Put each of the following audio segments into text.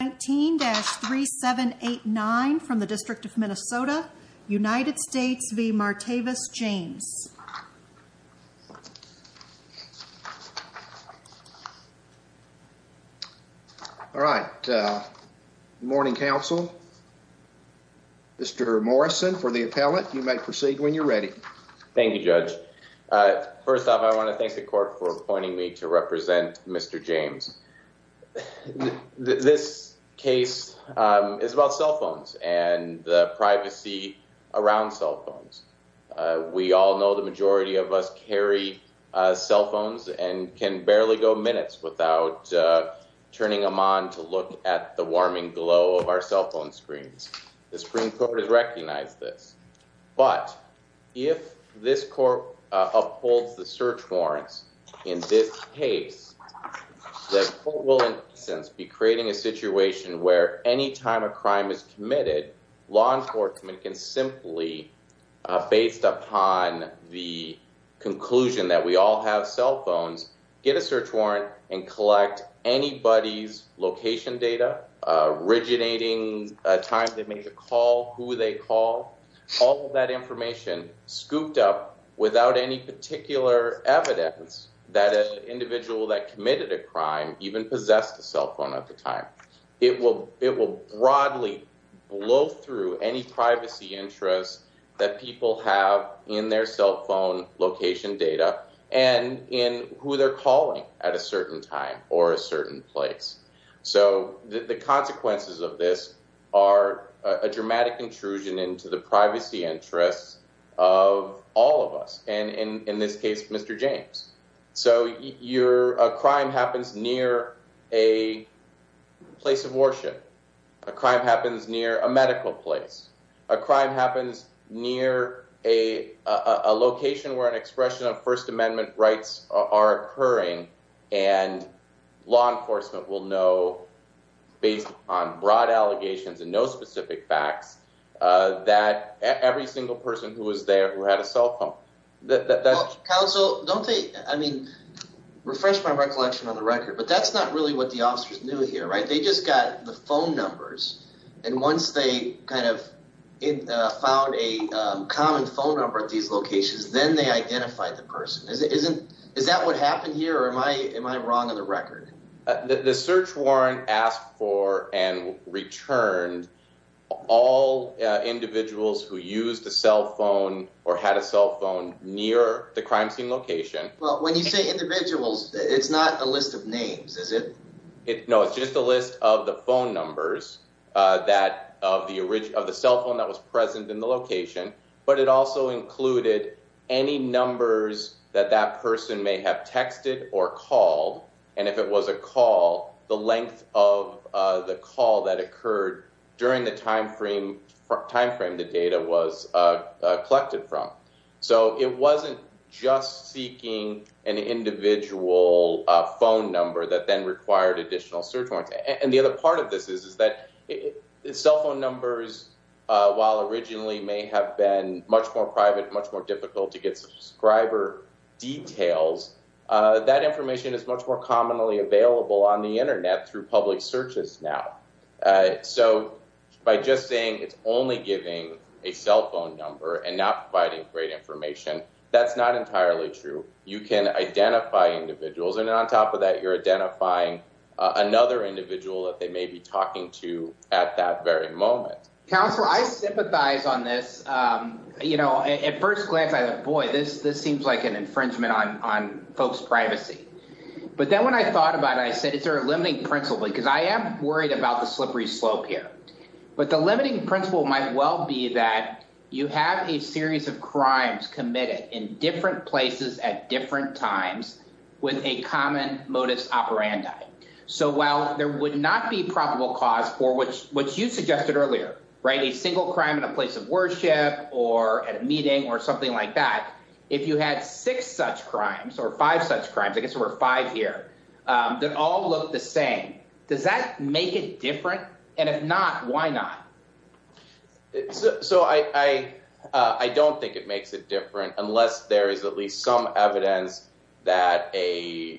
19-3789 from the District of Minnesota, United States v. Martavis James. All right. Good morning, Council. Mr. Morrison for the appellate. You may proceed when you're ready. Thank you, Judge. First off, I want to thank the court for appointing me to represent Mr. James. This case is about cell phones and the privacy around cell phones. We all know the majority of us carry cell phones and can barely go minutes without turning them on to look at the warming glow of our cell phone screens. The Supreme Court has recognized this. But if this court upholds the search warrants in this case, the court will, in essence, be creating a situation where any time a crime is committed, law enforcement can simply, based upon the conclusion that we all have cell phones, get a search warrant and collect anybody's location data originating a time they made a call, who they called. All of that information scooped up without any particular evidence that an individual that committed a crime even possessed a cell phone at the time. It will broadly blow through any privacy interests that people have in their cell phone location data and in who they're calling at a certain time or a certain place. The consequences of this are a dramatic intrusion into the privacy interests of all of us, and in this case, Mr. James. A crime happens near a place of worship. A crime happens near a medical place. A crime happens near a location where an expression of First Amendment rights are occurring, and law enforcement will know, based on broad allegations and no specific facts, that every single person who was there who had a cell phone. Counsel, don't they, I mean, refresh my recollection on the record, but that's not really what the officers knew here, right? They just got the phone numbers, and once they kind of found a common phone number at these locations, then they identified the person. Is that what happened here, or am I wrong on the record? The search warrant asked for and returned all individuals who used a cell phone or had a cell phone near the crime scene location. Well, when you say individuals, it's not a list of names, is it? No, it's just a list of the phone numbers of the cell phone that was present in the location, but it also included any numbers that that person may have texted or called, and if it was a call, the length of the call that occurred during the time frame the data was collected from. So it wasn't just seeking an individual phone number that then required additional search warrants, and the other part of this is that cell phone numbers, while originally may have been much more private, much more difficult to get subscriber details, that information is much more commonly available on the internet through public searches now. So by just saying it's only giving a cell phone number and not providing great information, that's not entirely true. You can identify individuals, and on top of that, you're identifying another individual that they may be talking to at that very moment. Counselor, I sympathize on this. At first glance, I thought, boy, this seems like an infringement on folks' privacy, but then when I thought about it, I said, is there a limiting principle? Because I am worried about the slippery slope here, but the limiting principle might well be that you have a series of crimes committed in different places at different times with a common modus operandi. So while there would not be probable cause for what you suggested earlier, a single crime in a place of worship or at a meeting or something like that, if you had six such crimes or five such crimes, I guess there were five here, that all look the same, does that make it different? And if not, why not? So I don't think it makes it different unless there is at least some evidence that a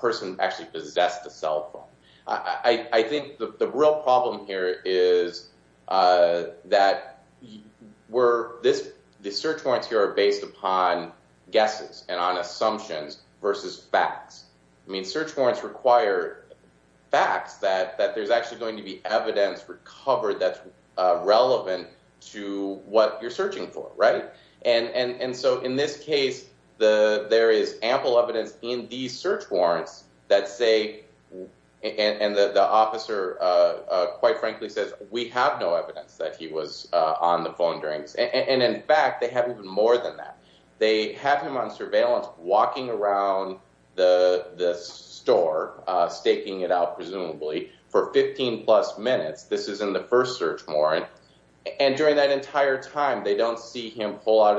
person actually possessed a cell phone. I think the real problem here is that the search warrants here are based upon guesses and on assumptions versus facts. I mean, search warrants require facts that there's actually going to be evidence recovered that's relevant to what you're searching for, right? And so in this case, there is ample evidence in these search warrants that say, and the officer quite frankly says, we have no evidence that he was on the phone during this. And in fact, they have even more than that. They have him on surveillance walking around the store, staking it out presumably, for 15 plus minutes. This is in the first search warrant. And during that entire time, they don't see him pull out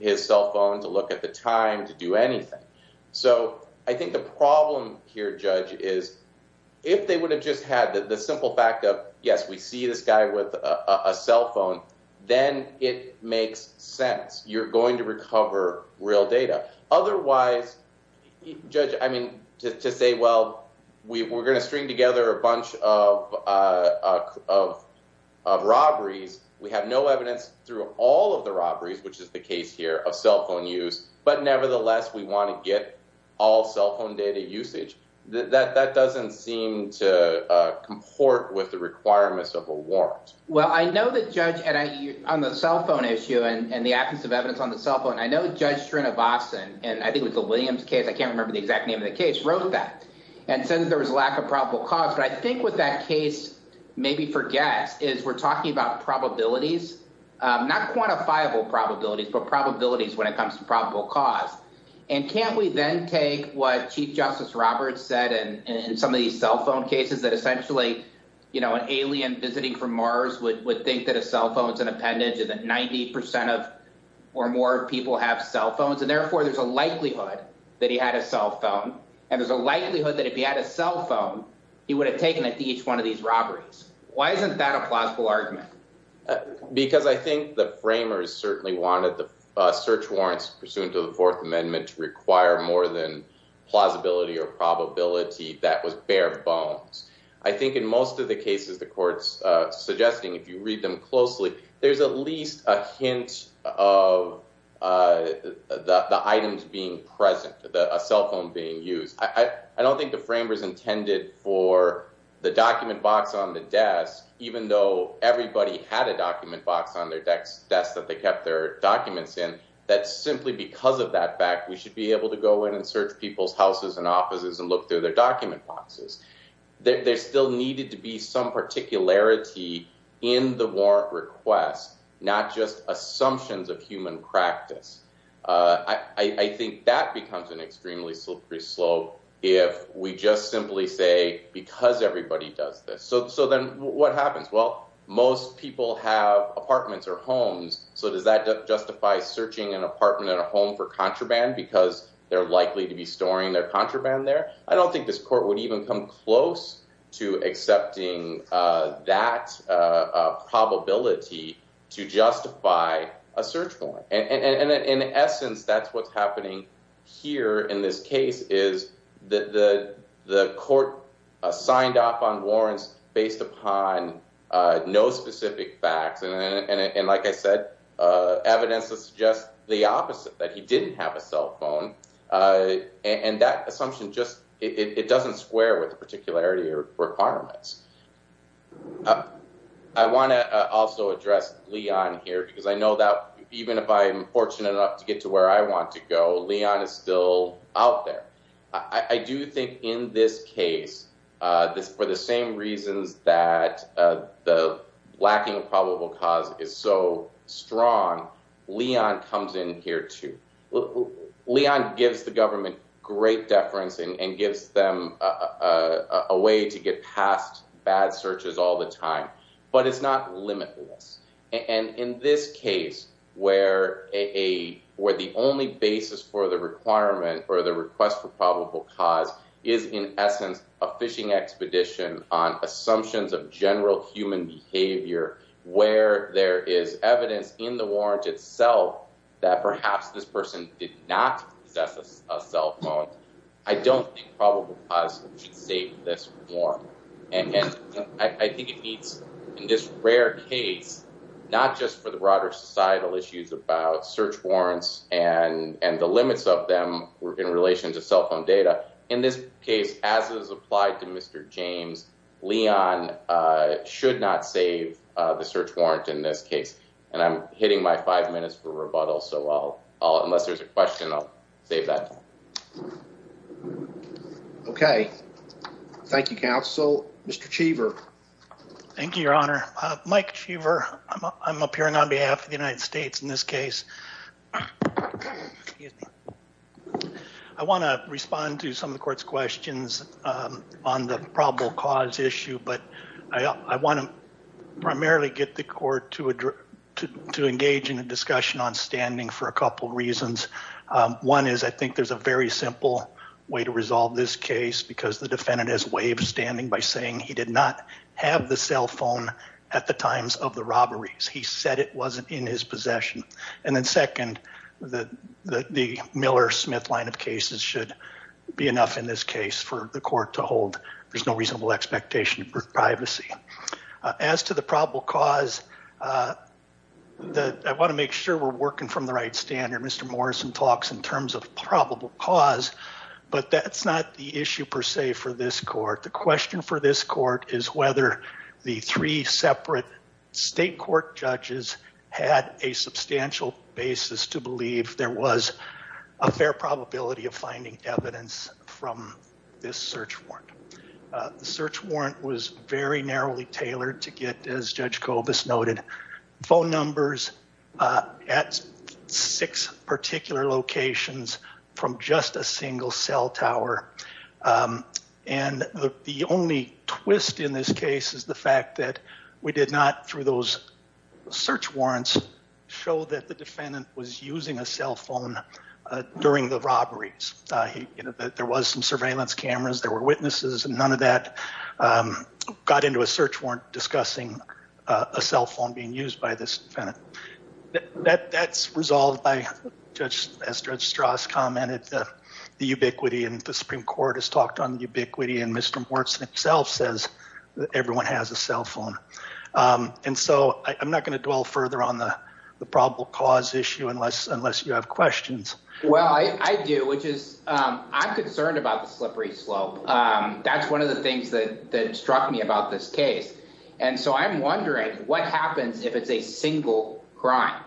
his cell phone to look at the time to do anything. So I think the problem here, Judge, is if they would have just had the simple fact of, yes, we see this guy with a cell phone, then it makes sense. You're going to recover real data. Otherwise, Judge, I mean, to say, well, we're going to string together a bunch of robberies. We have no evidence through all of the robberies, which is the case here of cell phone use. But nevertheless, we want to get all cell phone data usage. That doesn't seem to comport with the requirements of a warrant. Well, I know that Judge, on the cell phone issue and the absence of evidence on the cell phone, I know Judge Srinivasan, and I think it was a Williams case, I can't remember the exact name of the case, wrote that. And said that there was a lack of probable cause. But I think what that case maybe forgets is we're talking about probabilities, not quantifiable probabilities, but probabilities when it comes to probable cause. And can't we then take what Chief Justice Roberts said in some of these cell phone cases that essentially, you know, an alien visiting from Mars would think that a cell phone is an appendage and that 90 percent of or more people have cell phones. And therefore, there's a likelihood that he had a cell phone. And there's a likelihood that if he had a cell phone, he would have taken it to each one of these robberies. Why isn't that a plausible argument? Because I think the framers certainly wanted the search warrants pursuant to the Fourth Amendment to require more than plausibility or probability. That was bare bones. I think in most of the cases the court's suggesting, if you read them closely, there's at least a hint of the items being present, a cell phone being used. I don't think the framers intended for the document box on the desk, even though everybody had a document box on their desk that they kept their documents in, that simply because of that fact, we should be able to go in and search people's houses and offices and look through their document boxes. There still needed to be some particularity in the warrant request, not just assumptions of human practice. I think that becomes an extremely slippery slope if we just simply say, because everybody does this. So then what happens? Well, most people have apartments or homes. So does that justify searching an apartment and a home for contraband because they're likely to be storing their contraband there? I don't think this court would even come close to accepting that probability to justify a search warrant. And in essence, that's what's happening here in this case, is that the court signed off on warrants based upon no specific facts. And like I said, evidence that suggests the opposite, that he didn't have a cell phone. And that assumption just, it doesn't square with the particularity requirements. I want to also address Leon here, because I know that even if I am fortunate enough to get to where I want to go, Leon is still out there. I do think in this case, for the same reasons that the lacking of probable cause is so strong, Leon comes in here too. Leon gives the government great deference and gives them a way to get past bad searches all the time, but it's not limitless. And in this case, where the only basis for the requirement or the request for probable cause is in essence a phishing expedition on assumptions of general human behavior, where there is evidence in the warrant itself that perhaps this person did not possess a cell phone, I don't think probable cause should save this warrant. And I think it needs, in this rare case, not just for the broader societal issues about search warrants and the limits of them in relation to cell phone data. In this case, as is applied to Mr. James, Leon should not save the search warrant in this case. And I'm hitting my five minutes for rebuttal, so I'll, unless there's a question, I'll save that. Okay. Thank you, counsel. Mr. Cheever. Thank you, Your Honor. Mike Cheever. I'm appearing on behalf of the United States in this case. I want to respond to some of the court's questions on the probable cause issue, but I want to primarily get the court to engage in a discussion on standing for a couple reasons. One is I think there's a very simple way to resolve this case because the defendant has waived standing by saying he did not have the cell phone at the times of the robberies. He said it wasn't in his possession. And then second, the Miller-Smith line of cases should be enough in this case for the court to hold. There's no reasonable expectation for privacy. As to the probable cause, I want to make sure we're working from the right standard. Mr. Morrison talks in terms of probable cause, but that's not the issue per se for this court. The question for this court is whether the three separate state court judges had a substantial basis to believe there was a fair probability of finding evidence from this search warrant. The search warrant was very narrowly tailored to get, as Judge Kobus noted, phone numbers at six particular locations from just a single cell tower. And the only twist in this case is the fact that we did not, through those search warrants, show that the defendant was using a cell phone during the robberies. There was some surveillance cameras, there were witnesses, and none of that got into a search warrant discussing a cell phone being used by this defendant. That's resolved by, as Judge Strauss commented, the ubiquity, and the Supreme Court has talked on the ubiquity, and Mr. Morrison himself says that everyone has a cell phone. And so I'm not going to dwell further on the probable cause issue unless you have questions. Well, I do, which is, I'm concerned about the slippery slope. That's one of the things that struck me about this case. And so I'm wondering what happens if it's a single crime?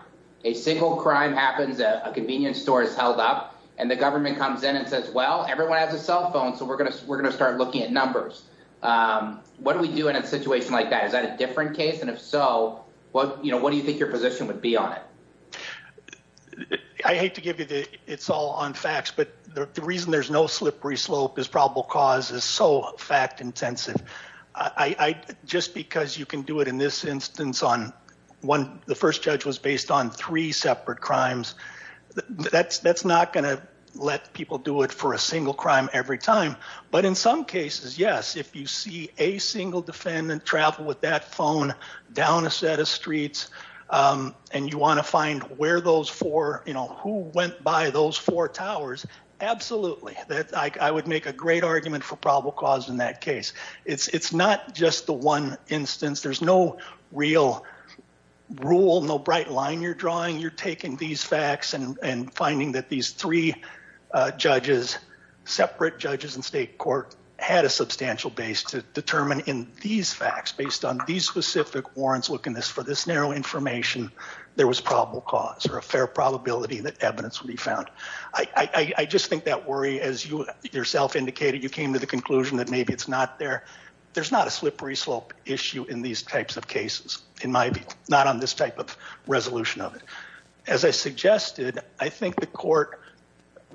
A single crime happens, a convenience store is held up, and the government comes in and says, well, everyone has a cell phone, so we're going to start looking at numbers. What do we do in a situation like that? Is that a different case? And if so, what do you think your position would be on it? I hate to give you the, it's all on facts, but the reason there's no slippery slope is probable cause is so fact-intensive. Just because you can do it in this instance on one, the first judge was based on three separate crimes, that's not going to let people do it for a single crime every time. But in some cases, yes, if you see a single defendant travel with that phone down a set of streets and you want to find where those four, who went by those four towers, absolutely. I would make a great argument for probable cause in that case. It's not just the one instance. There's no real rule, no bright line you're drawing. You're taking these facts and finding that these three judges, separate judges in state court, had a substantial base to determine in these facts, based on these specific warrants, look in this for this narrow information. There was probable cause or a fair probability that evidence would be found. I just think that worry, as you yourself indicated, you came to the conclusion that maybe it's not there. There's not a slippery slope issue in these types of cases, in my view, not on this type of resolution of it. As I suggested, I think the court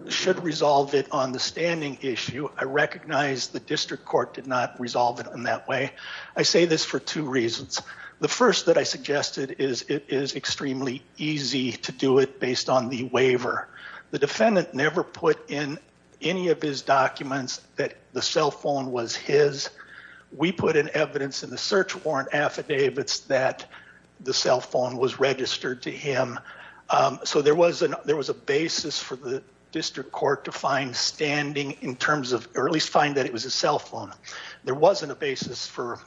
should resolve it on the standing issue. I recognize the district court did not resolve it in that way. I say this for two reasons. The first that I suggested is it is extremely easy to do it based on the waiver. The defendant never put in any of his documents that the cell phone was his. We put in evidence in the search warrant affidavits that the cell phone was registered to him. There was a basis for the district court to find standing in terms of, or at least find that it was his cell phone. There wasn't a basis for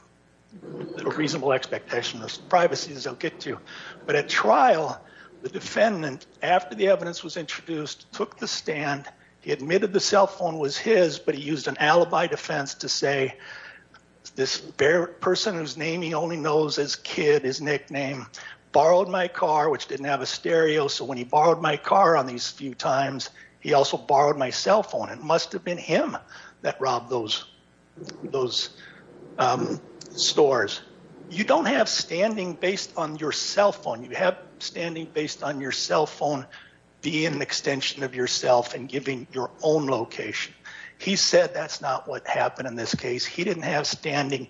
reasonable expectation of privacy, as they'll get to. But at trial, the defendant, after the evidence was introduced, took the stand. He admitted the cell phone was his, but he used an alibi defense to say, this person whose name he only knows as Kid, his nickname, borrowed my car, which didn't have a stereo, so when he borrowed my car on these few times, he also borrowed my cell phone. It must have been him that robbed those stores. You don't have standing based on your cell phone. You have standing based on your cell phone being an extension of yourself and giving your own location. He said that's not what happened in this case. He didn't have standing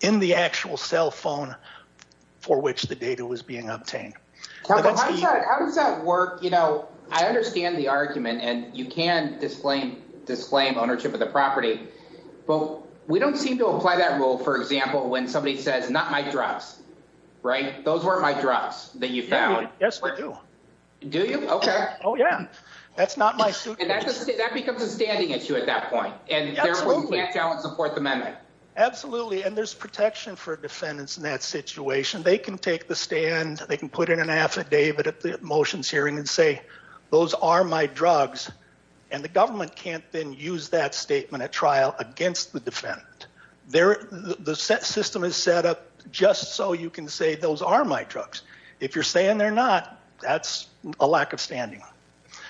in the actual cell phone for which the data was being obtained. How does that work? I understand the argument, and you can disclaim ownership of the property, but we don't seem to apply that rule, for example, when somebody says, not my drugs, right? Those weren't my drugs that you found. Yes, they do. Do you? Okay. Oh, yeah. That's not my suit. And that becomes a standing issue at that point, and therefore you can't challenge the Fourth Amendment. Absolutely, and there's protection for defendants in that situation. They can take the stand, they can put in an affidavit at the motions hearing and say, those are my drugs, and the government can't then use that statement at trial against the defendant. The system is set up just so you can say, those are my drugs. If you're saying they're not, that's a lack of standing.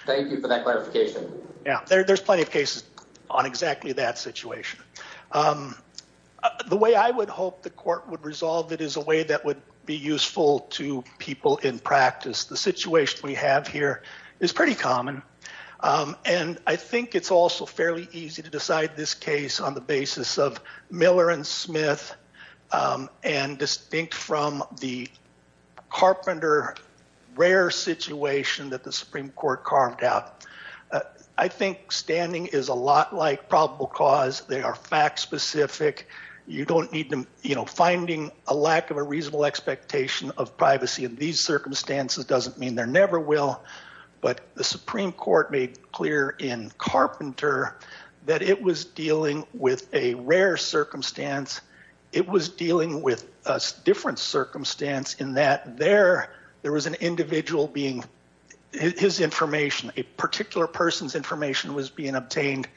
Yeah, there's plenty of cases on exactly that situation. The way I would hope the court would resolve it is a way that would be useful to people in practice. The situation we have here is pretty common, and I think it's also fairly easy to decide this case on the basis of Miller and Smith, and distinct from the carpenter rare situation that the Supreme Court carved out. I think standing is a lot like probable cause. They are fact-specific. You don't need to, you know, finding a lack of a reasonable expectation of privacy in these circumstances doesn't mean there never will, but the Supreme Court made clear in Carpenter that it was dealing with a rare circumstance. It was dealing with a different circumstance in that there was an individual being, his information, a particular person's information was being obtained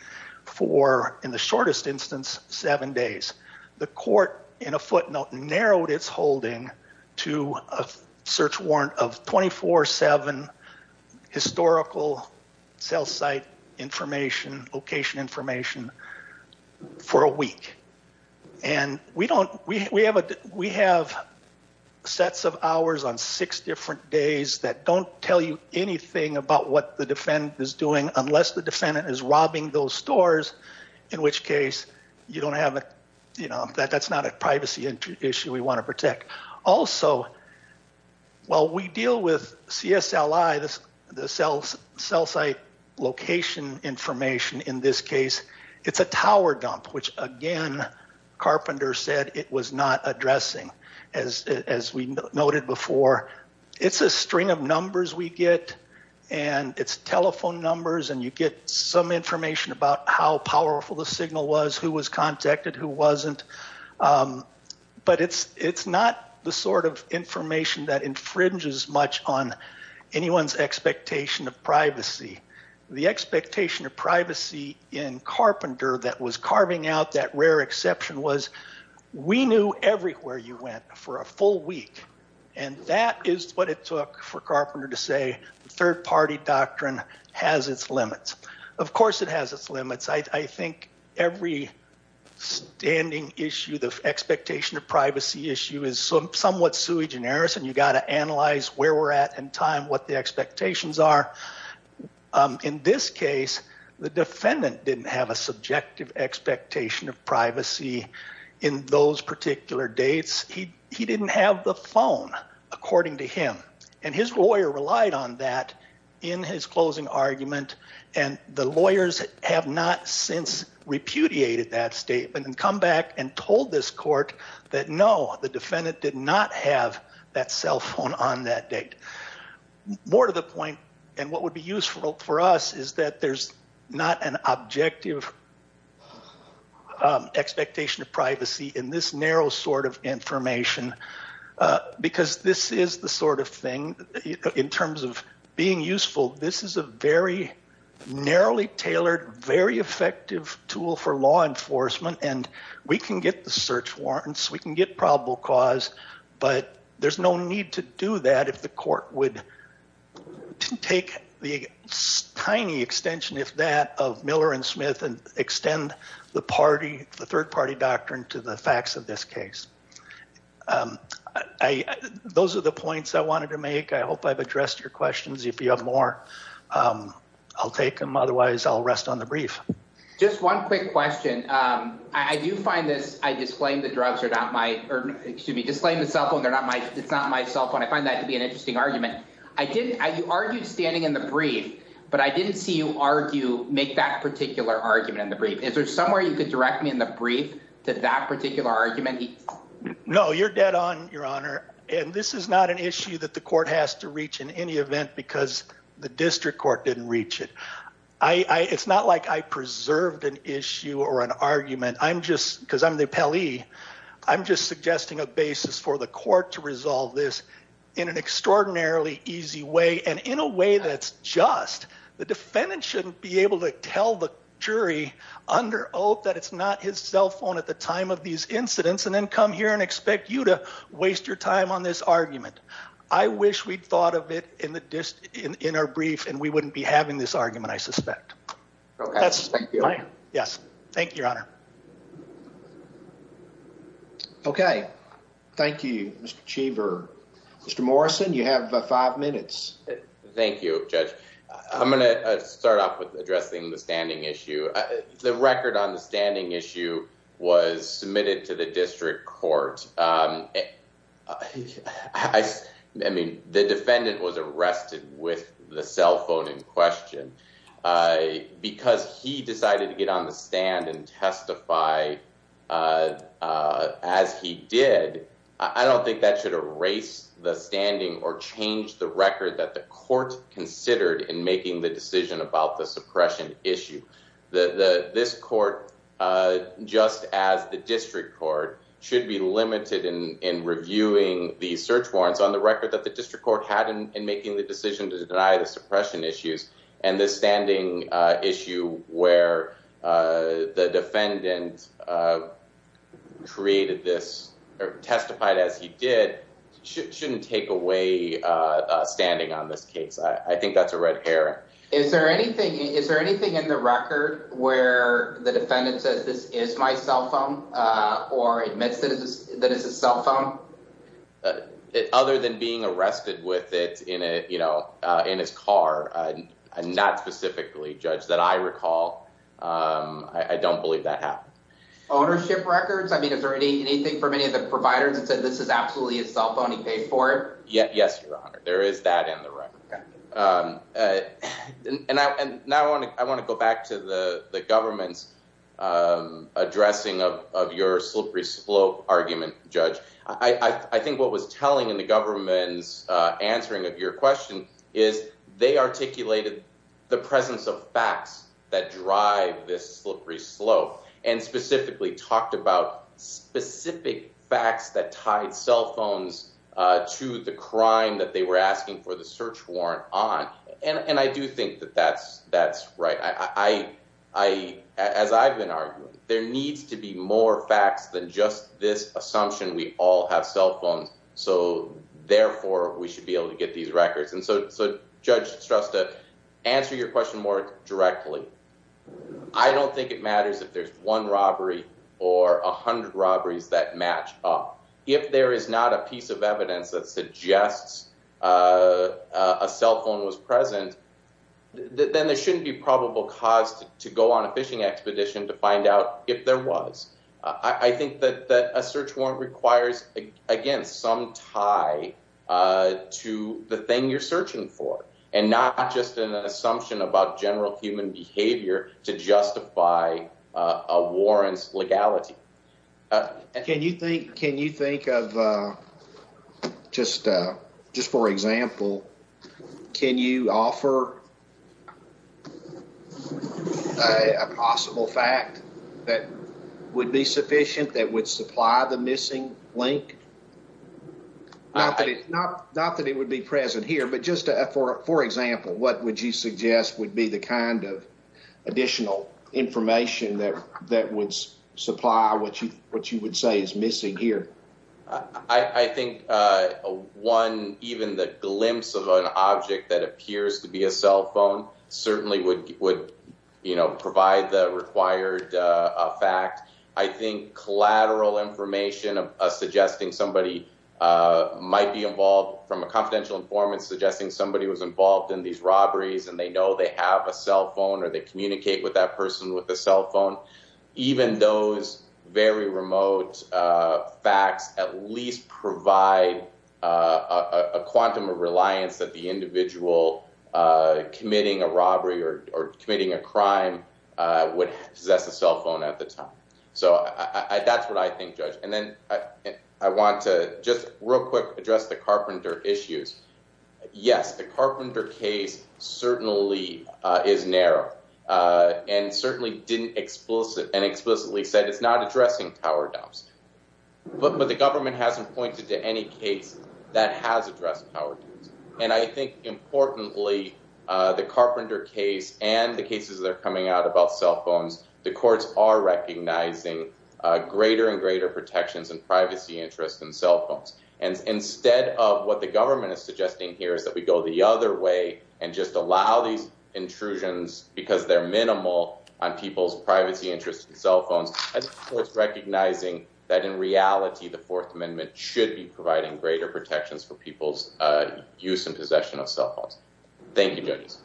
for, in the shortest instance, seven days. The court, in a footnote, narrowed its holding to a search warrant of 24-7 historical cell site information, location information, for a week. We have sets of hours on six different days that don't tell you anything about what the defendant is doing unless the defendant is robbing those stores, in which case you don't have a, you know, that's not a privacy issue we want to protect. Also, while we deal with CSLI, the cell site location information in this case, it's a tower dump, which again, Carpenter said it was not addressing, as we noted before. It's a string of numbers we get, and it's telephone numbers, and you get some information about how powerful the signal was, who was contacted, who wasn't. But it's not the sort of information that infringes much on anyone's expectation of privacy. The expectation of privacy in Carpenter that was carving out that rare exception was we knew everywhere you went for a full week, and that is what it took for Carpenter to say third-party doctrine has its limits. Of course it has its limits. I think every standing issue, the expectation of privacy issue is somewhat sui generis, and you've got to analyze where we're at in time, what the expectations are. In this case, the defendant didn't have a subjective expectation of privacy in those particular dates. He didn't have the phone, according to him, and his lawyer relied on that in his closing argument, and the lawyers have not since repudiated that statement and come back and told this court that no, the defendant did not have that cell phone on that date. More to the point, and what would be useful for us is that there's not an objective expectation of privacy in this narrow sort of information because this is the sort of thing in terms of being useful. This is a very narrowly tailored, very effective tool for law enforcement, and we can get the search warrants, we can get probable cause, but there's no need to do that if the court would take the tiny extension, if that, of Miller and Smith and extend the third-party doctrine to the facts of this case. Those are the points I wanted to make. I hope I've addressed your questions. If you have more, I'll take them. Otherwise, I'll rest on the brief. Just one quick question. I do find this, I disclaim the cell phone, it's not my cell phone. I find that to be an interesting argument. You argued standing in the brief, but I didn't see you make that particular argument in the brief. Is there somewhere you could direct me in the brief to that particular argument? No, you're dead on, Your Honor, and this is not an issue that the court has to reach in any event because the district court didn't reach it. It's not like I preserved an issue or an argument. I'm just, because I'm the appellee, I'm just suggesting a basis for the court to resolve this in an extraordinarily easy way and in a way that's just. The defendant shouldn't be able to tell the jury under oath that it's not his cell phone at the time of these incidents and then come here and expect you to waste your time on this argument. I wish we'd thought of it in our brief and we wouldn't be having this argument, I suspect. Okay, thank you. Yes, thank you, Your Honor. Okay, thank you, Mr. Cheever. Mr. Morrison, you have five minutes. Thank you, Judge. I'm going to start off with addressing the standing issue. The record on the standing issue was submitted to the district court. I mean, the defendant was arrested with the cell phone in question because he decided to get on the stand and testify as he did. I don't think that should erase the standing or change the record that the court considered in making the decision about the suppression issue. This court, just as the district court, should be limited in reviewing the search warrants on the record that the district court had in making the decision to deny the suppression issues. And the standing issue where the defendant created this or testified as he did shouldn't take away standing on this case. I think that's a red herring. Is there anything in the record where the defendant says this is my cell phone or admits that it's his cell phone? Other than being arrested with it in his car, not specifically, Judge, that I recall, I don't believe that happened. Ownership records? I mean, is there anything from any of the providers that said this is absolutely his cell phone, he paid for it? Yes, Your Honor. There is that in the record. And now I want to go back to the government's addressing of your slippery slope argument, Judge. I think what was telling in the government's answering of your question is they articulated the presence of facts that drive this slippery slope and specifically talked about specific facts that tied cell phones to the crime that they were asking for the search warrant on. And I do think that that's right. As I've been arguing, there needs to be more facts than just this assumption we all have cell phones, so therefore we should be able to get these records. And so Judge Shrestha, answer your question more directly. I don't think it matters if there's one robbery or 100 robberies that match up. If there is not a piece of evidence that suggests a cell phone was present, then there shouldn't be probable cause to go on a fishing expedition to find out if there was. I think that a search warrant requires, again, some tie to the thing you're searching for and not just an assumption about general human behavior to justify a warrant's legality. Can you think can you think of just just for example, can you offer a possible fact that would be sufficient that would supply the missing link? Not that it not not that it would be present here, but just for example, what would you suggest would be the kind of additional information that that would supply what you what you would say is missing here? I think one, even the glimpse of an object that appears to be a cell phone certainly would would provide the required fact. I think collateral information of suggesting somebody might be involved from a confidential informant suggesting somebody was involved in these robberies and they know they have a cell phone or they communicate with that person with a cell phone. Even those very remote facts at least provide a quantum of reliance that the individual committing a robbery or committing a crime would possess a cell phone at the time. So that's what I think, judge. And then I want to just real quick address the carpenter issues. Yes, the carpenter case certainly is narrow and certainly didn't explicit and explicitly said it's not addressing our doubts. But the government hasn't pointed to any case that has addressed our doubts. And I think importantly, the carpenter case and the cases that are coming out about cell phones, the courts are recognizing greater and greater protections and privacy interest in cell phones. And instead of what the government is suggesting here is that we go the other way and just allow these intrusions because they're minimal on people's privacy interest in cell phones. And it's recognizing that in reality, the Fourth Amendment should be providing greater protections for people's use and possession of cell phones. Thank you, judges.